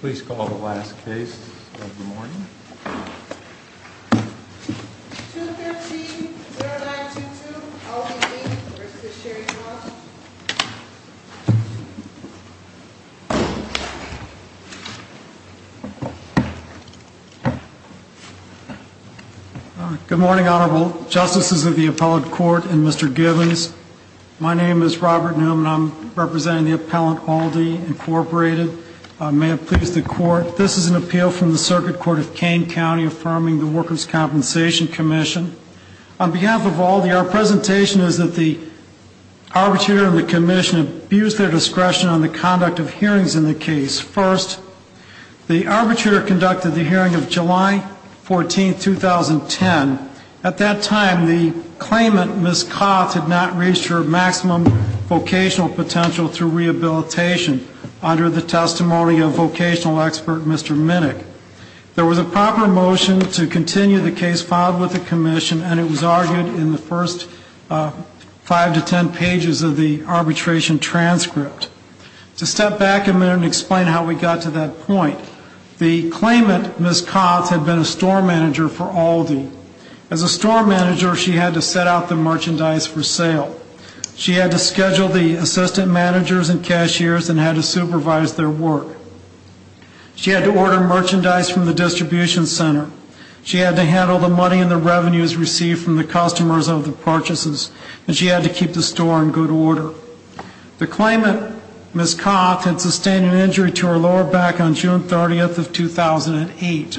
Please call the last case of the morning. 213-0922, Aldi, Inc. v. Sherry Cross. Good morning, Honorable Justices of the Appellate Court and Mr. Givens. My name is Robert Newman. I'm representing the Appellant Aldi, Inc. May it please the Court, this is an appeal from the Circuit Court of Kane County affirming the Workers' Compensation Commission. On behalf of Aldi, our presentation is that the Arbitrator and the Commission abuse their discretion on the conduct of hearings in the case. First, the Arbitrator conducted the hearing of July 14, 2010. At that time, the claimant, Ms. Coth, had not reached her maximum vocational potential through rehabilitation, under the testimony of vocational expert Mr. Minnick. There was a proper motion to continue the case filed with the Commission, and it was argued in the first five to ten pages of the arbitration transcript. To step back a minute and explain how we got to that point, the claimant, Ms. Coth, had been a store manager for Aldi. As a store manager, she had to set out the merchandise for sale. She had to schedule the assistant managers and cashiers and had to supervise their work. She had to order merchandise from the distribution center. She had to handle the money and the revenues received from the customers of the purchases, and she had to keep the store in good order. The claimant, Ms. Coth, had sustained an injury to her lower back on June 30, 2008.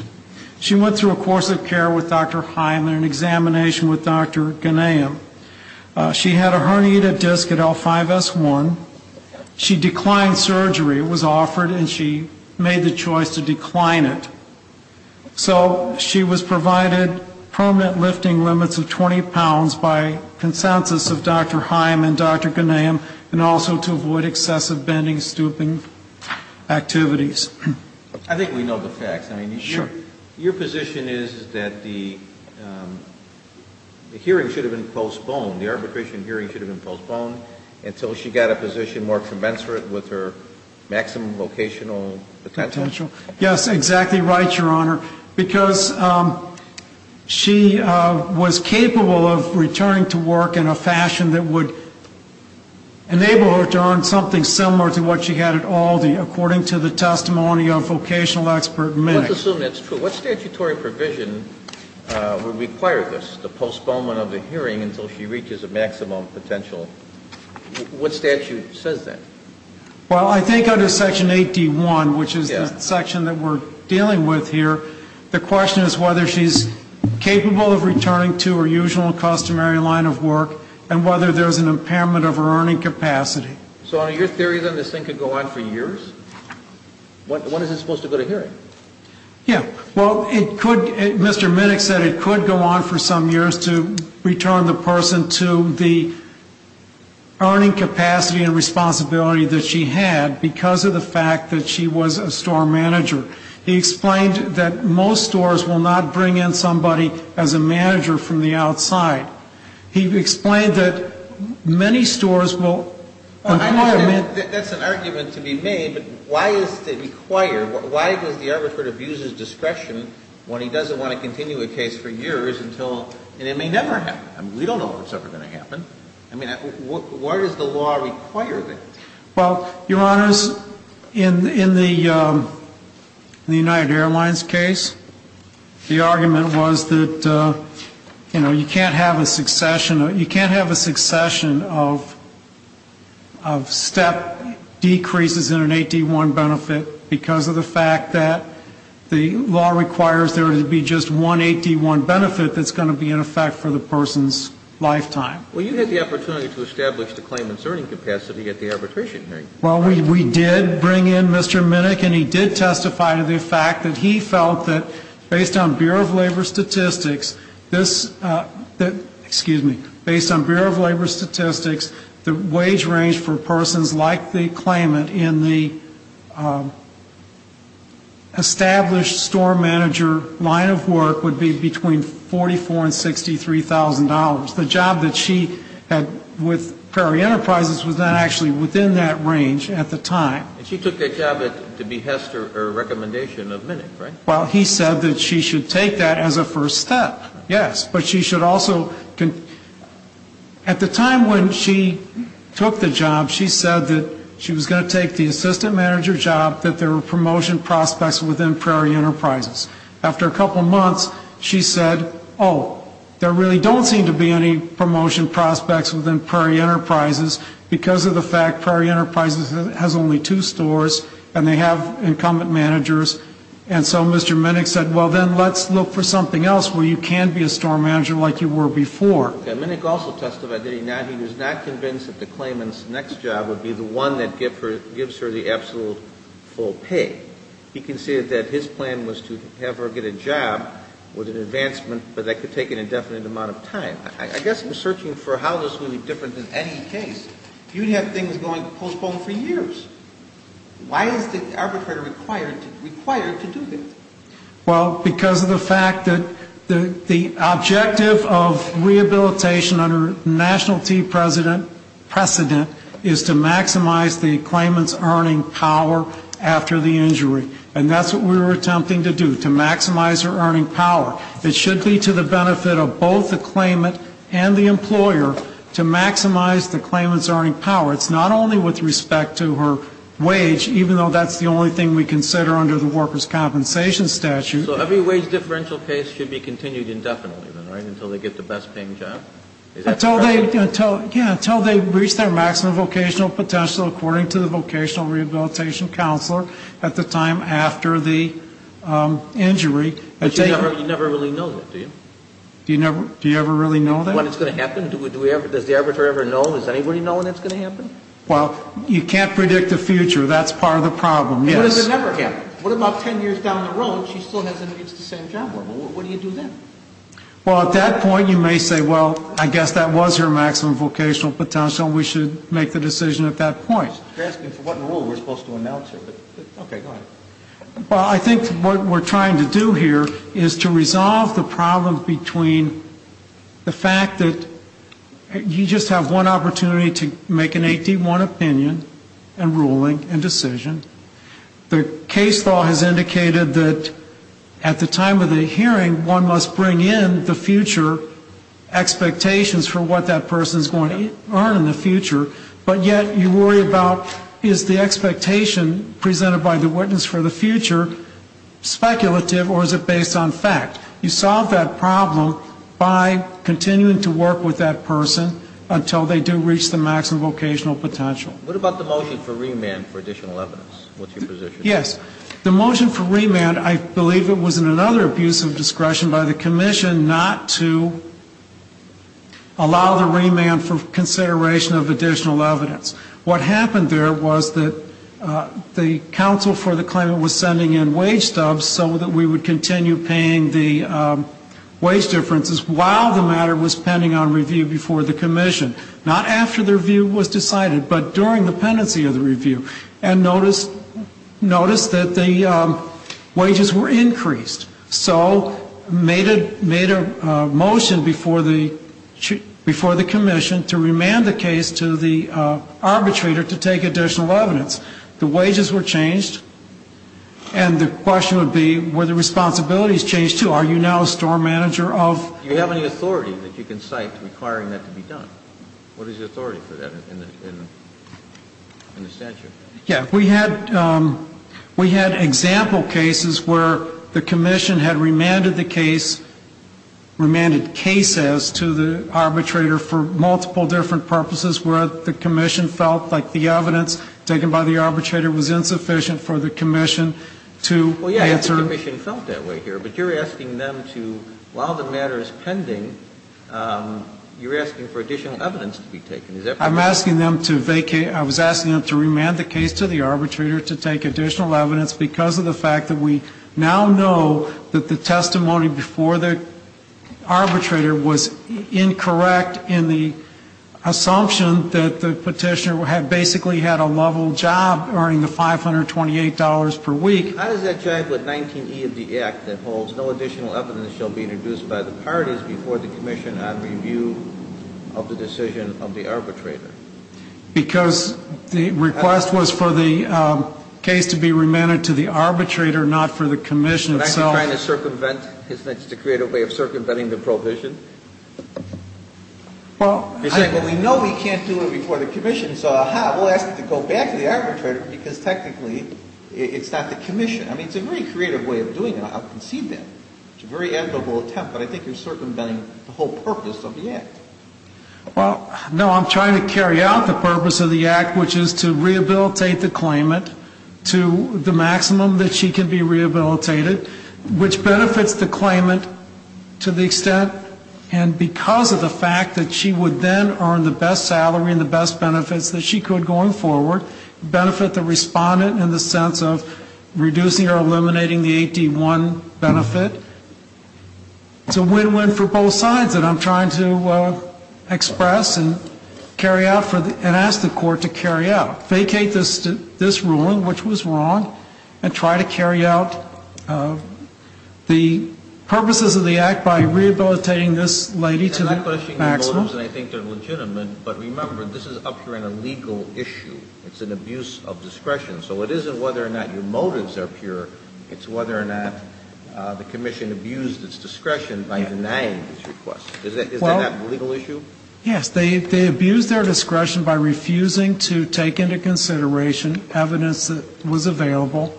She went through a course of care with Dr. Heim and an examination with Dr. Gnaeum. She had a herniated disc at L5S1. She declined surgery. It was offered, and she made the choice to decline it. So she was provided permanent lifting limits of 20 pounds by consensus of Dr. Heim and Dr. Gnaeum, and also to avoid excessive bending, stooping activities. I think we know the facts. I mean, your position is that the hearing should have been postponed, the arbitration hearing should have been postponed, until she got a position more commensurate with her maximum vocational potential. Yes, exactly right, Your Honor, because she was capable of returning to work in a fashion that would enable her to earn something similar to what she had at Aldi, according to the testimony of vocational expert Minnick. Let's assume that's true. What statutory provision would require this, the postponement of the hearing until she reaches a maximum potential? What statute says that? Well, I think under Section 8D1, which is the section that we're dealing with here, the question is whether she's capable of returning to her usual customary line of work and whether there's an impairment of her earning capacity. So, Your Honor, your theory is that this thing could go on for years? When is it supposed to go to hearing? Yeah. Well, it could, Mr. Minnick said it could go on for some years to return the person to the earning capacity and responsibility that she had because of the fact that she was a store manager. He explained that most stores will not bring in somebody as a manager from the outside. He explained that many stores will acquire men. That's an argument to be made, but why does the arbitrator abuse his discretion when he doesn't want to continue a case for years until, and it may never happen. I mean, we don't know when it's ever going to happen. I mean, what does the law require there? Well, Your Honors, in the United Airlines case, the argument was that, you know, you can't have a succession of step decreases in an 8D1 benefit because of the fact that the law requires there to be just one 8D1 benefit that's going to be in effect for the person's lifetime. Well, you had the opportunity to establish the claimant's earning capacity at the arbitration hearing. Well, we did bring in Mr. Minnick, and he did testify to the fact that he felt that, based on Bureau of Labor statistics, this, excuse me, based on Bureau of Labor statistics, the wage range for persons like the claimant in the established store manager line of work would be between $44,000 and $63,000. The job that she had with Prairie Enterprises was not actually within that range at the time. And she took that job to behest her recommendation of Minnick, right? Well, he said that she should take that as a first step, yes. But she should also, at the time when she took the job, she said that she was going to take the assistant manager job, that there were promotion prospects within Prairie Enterprises. After a couple months, she said, oh, there really don't seem to be any promotion prospects within Prairie Enterprises because of the fact Prairie Enterprises has only two stores and they have incumbent managers. And so Mr. Minnick said, well, then let's look for something else where you can be a store manager like you were before. Minnick also testified that he was not convinced that the claimant's next job would be the one that gives her the absolute full pay. He conceded that his plan was to have her get a job with an advancement but that could take an indefinite amount of time. I guess I'm searching for how this would be different than any case. You'd have things going postponed for years. Why is the arbitrator required to do this? Well, because of the fact that the objective of rehabilitation under national T precedent is to maximize the claimant's earning power after the injury. And that's what we were attempting to do, to maximize her earning power. It should be to the benefit of both the claimant and the employer to maximize the claimant's earning power. It's not only with respect to her wage, even though that's the only thing we consider under the workers' compensation statute. So every wage differential case should be continued indefinitely, right, until they get the best paying job? Until they reach their maximum vocational potential according to the vocational rehabilitation counselor at the time after the injury. But you never really know that, do you? Do you ever really know that? When it's going to happen, does the arbitrator ever know? Does anybody know when it's going to happen? Well, you can't predict the future. That's part of the problem, yes. And what if it never happens? What about ten years down the road and she still hasn't reached the same job level? What do you do then? Well, at that point, you may say, well, I guess that was her maximum vocational potential. We should make the decision at that point. Okay, go ahead. Well, I think what we're trying to do here is to resolve the problem between the fact that you just have one opportunity to make an 81 opinion and ruling and decision. The case law has indicated that at the time of the hearing, one must bring in the future expectations for what that person is going to earn in the future, but yet you worry about is the expectation presented by the witness for the future speculative or is it based on fact? You solve that problem by continuing to work with that person until they do reach the maximum vocational potential. What about the motion for remand for additional evidence? What's your position? Yes, the motion for remand, I believe it was in another abuse of discretion by the commission not to allow the remand for consideration of additional evidence. What happened there was that the counsel for the claimant was sending in wage dubs so that we would continue paying the wage differences while the matter was pending on review before the commission. Not after the review was decided, but during the pendency of the review. And notice that the wages were increased. So made a motion before the commission to remand the case to the arbitrator to take additional evidence. The wages were changed and the question would be were the responsibilities changed too? Are you now store manager of? Do you have any authority that you can cite requiring that to be done? What is the authority for that in the statute? Yes, we had example cases where the commission had remanded the case, remanded cases to the arbitrator for multiple different purposes where the commission felt like the evidence taken by the arbitrator was insufficient for the commission to answer. The commission felt that way here, but you're asking them to, while the matter is pending, you're asking for additional evidence to be taken. I'm asking them to vacate. I was asking them to remand the case to the arbitrator to take additional evidence because of the fact that we now know that the testimony before the arbitrator was incorrect in the assumption that the petitioner had basically had a level job earning the $528 per week. How does that jive with 19E of the Act that holds no additional evidence shall be introduced by the parties before the commission on review of the decision of the arbitrator? Because the request was for the case to be remanded to the arbitrator, not for the commission. Are you trying to circumvent, to create a way of circumventing the provision? Well, we know we can't do it before the commission, so aha, we'll ask it to go back to the arbitrator because technically it's not the commission. I mean, it's a very creative way of doing it. I'll concede that. It's a very amicable attempt, but I think you're circumventing the whole purpose of the Act. Well, no, I'm trying to carry out the purpose of the Act, which is to rehabilitate the claimant to the maximum that she can be rehabilitated, which benefits the claimant to the extent and because of the fact that she would then earn the best salary and the best benefits that she could going forward, benefit the respondent in the sense of reducing or eliminating the 8D1 benefit. It's a win-win for both sides that I'm trying to express and carry out and ask the Court to carry out. Vacate this ruling, which was wrong, and try to carry out the purposes of the Act by rehabilitating this lady to the maximum. And I question your motives, and I think they're legitimate, but remember, this is up here on a legal issue. It's an abuse of discretion. So it isn't whether or not your motives are pure. It's whether or not the Commission abused its discretion by denying this request. Is that not a legal issue? Yes. They abused their discretion by refusing to take into consideration evidence that was available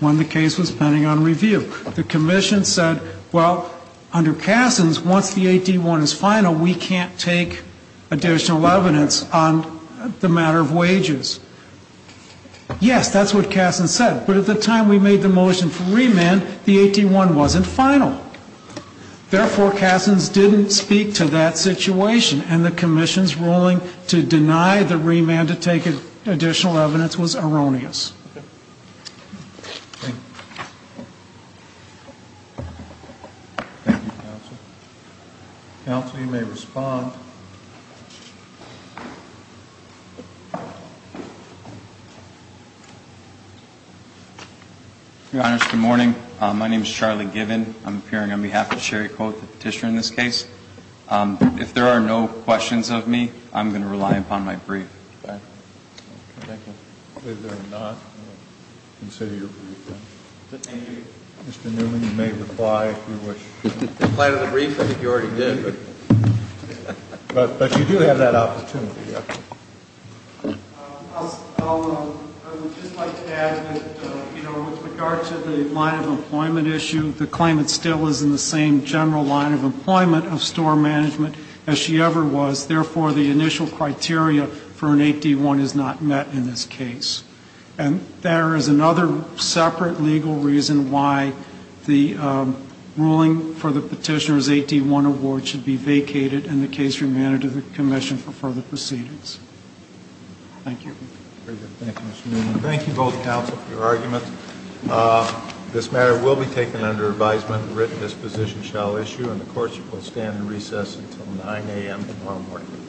when the case was pending on review. The Commission said, well, under Cassin's, once the 8D1 is final, we can't take additional evidence on the matter of wages. Yes, that's what Cassin said, but at the time we made the motion for remand, the 8D1 wasn't final. Therefore, Cassin's didn't speak to that situation, and the Commission's ruling to deny the remand to take additional evidence was erroneous. Thank you, Counsel. Counsel, you may respond. Your Honors, good morning. My name is Charlie Gibbon. I'm appearing on behalf of Sherry Cole, the Petitioner in this case. If there are no questions of me, I'm going to rely upon my brief. Thank you. If there are not, I'm going to consider your brief. Thank you. Mr. Newman, you may reply if you wish. If I had a brief, I think you already did. But you do have that opportunity. I would just like to add that, you know, with regard to the line of employment issue, the claimant still is in the same general line of employment of store management as she ever was. Therefore, the initial criteria for an 8D1 is not met in this case. And there is another separate legal reason why the ruling for the Petitioner's 8D1 award should be vacated and the case remanded to the Commission for further proceedings. Thank you. Very good. Thank you, Mr. Newman. Thank you both, Counsel, for your arguments. This matter will be taken under advisement, written disposition shall issue, and the courts shall stand in recess until 9 a.m. tomorrow morning.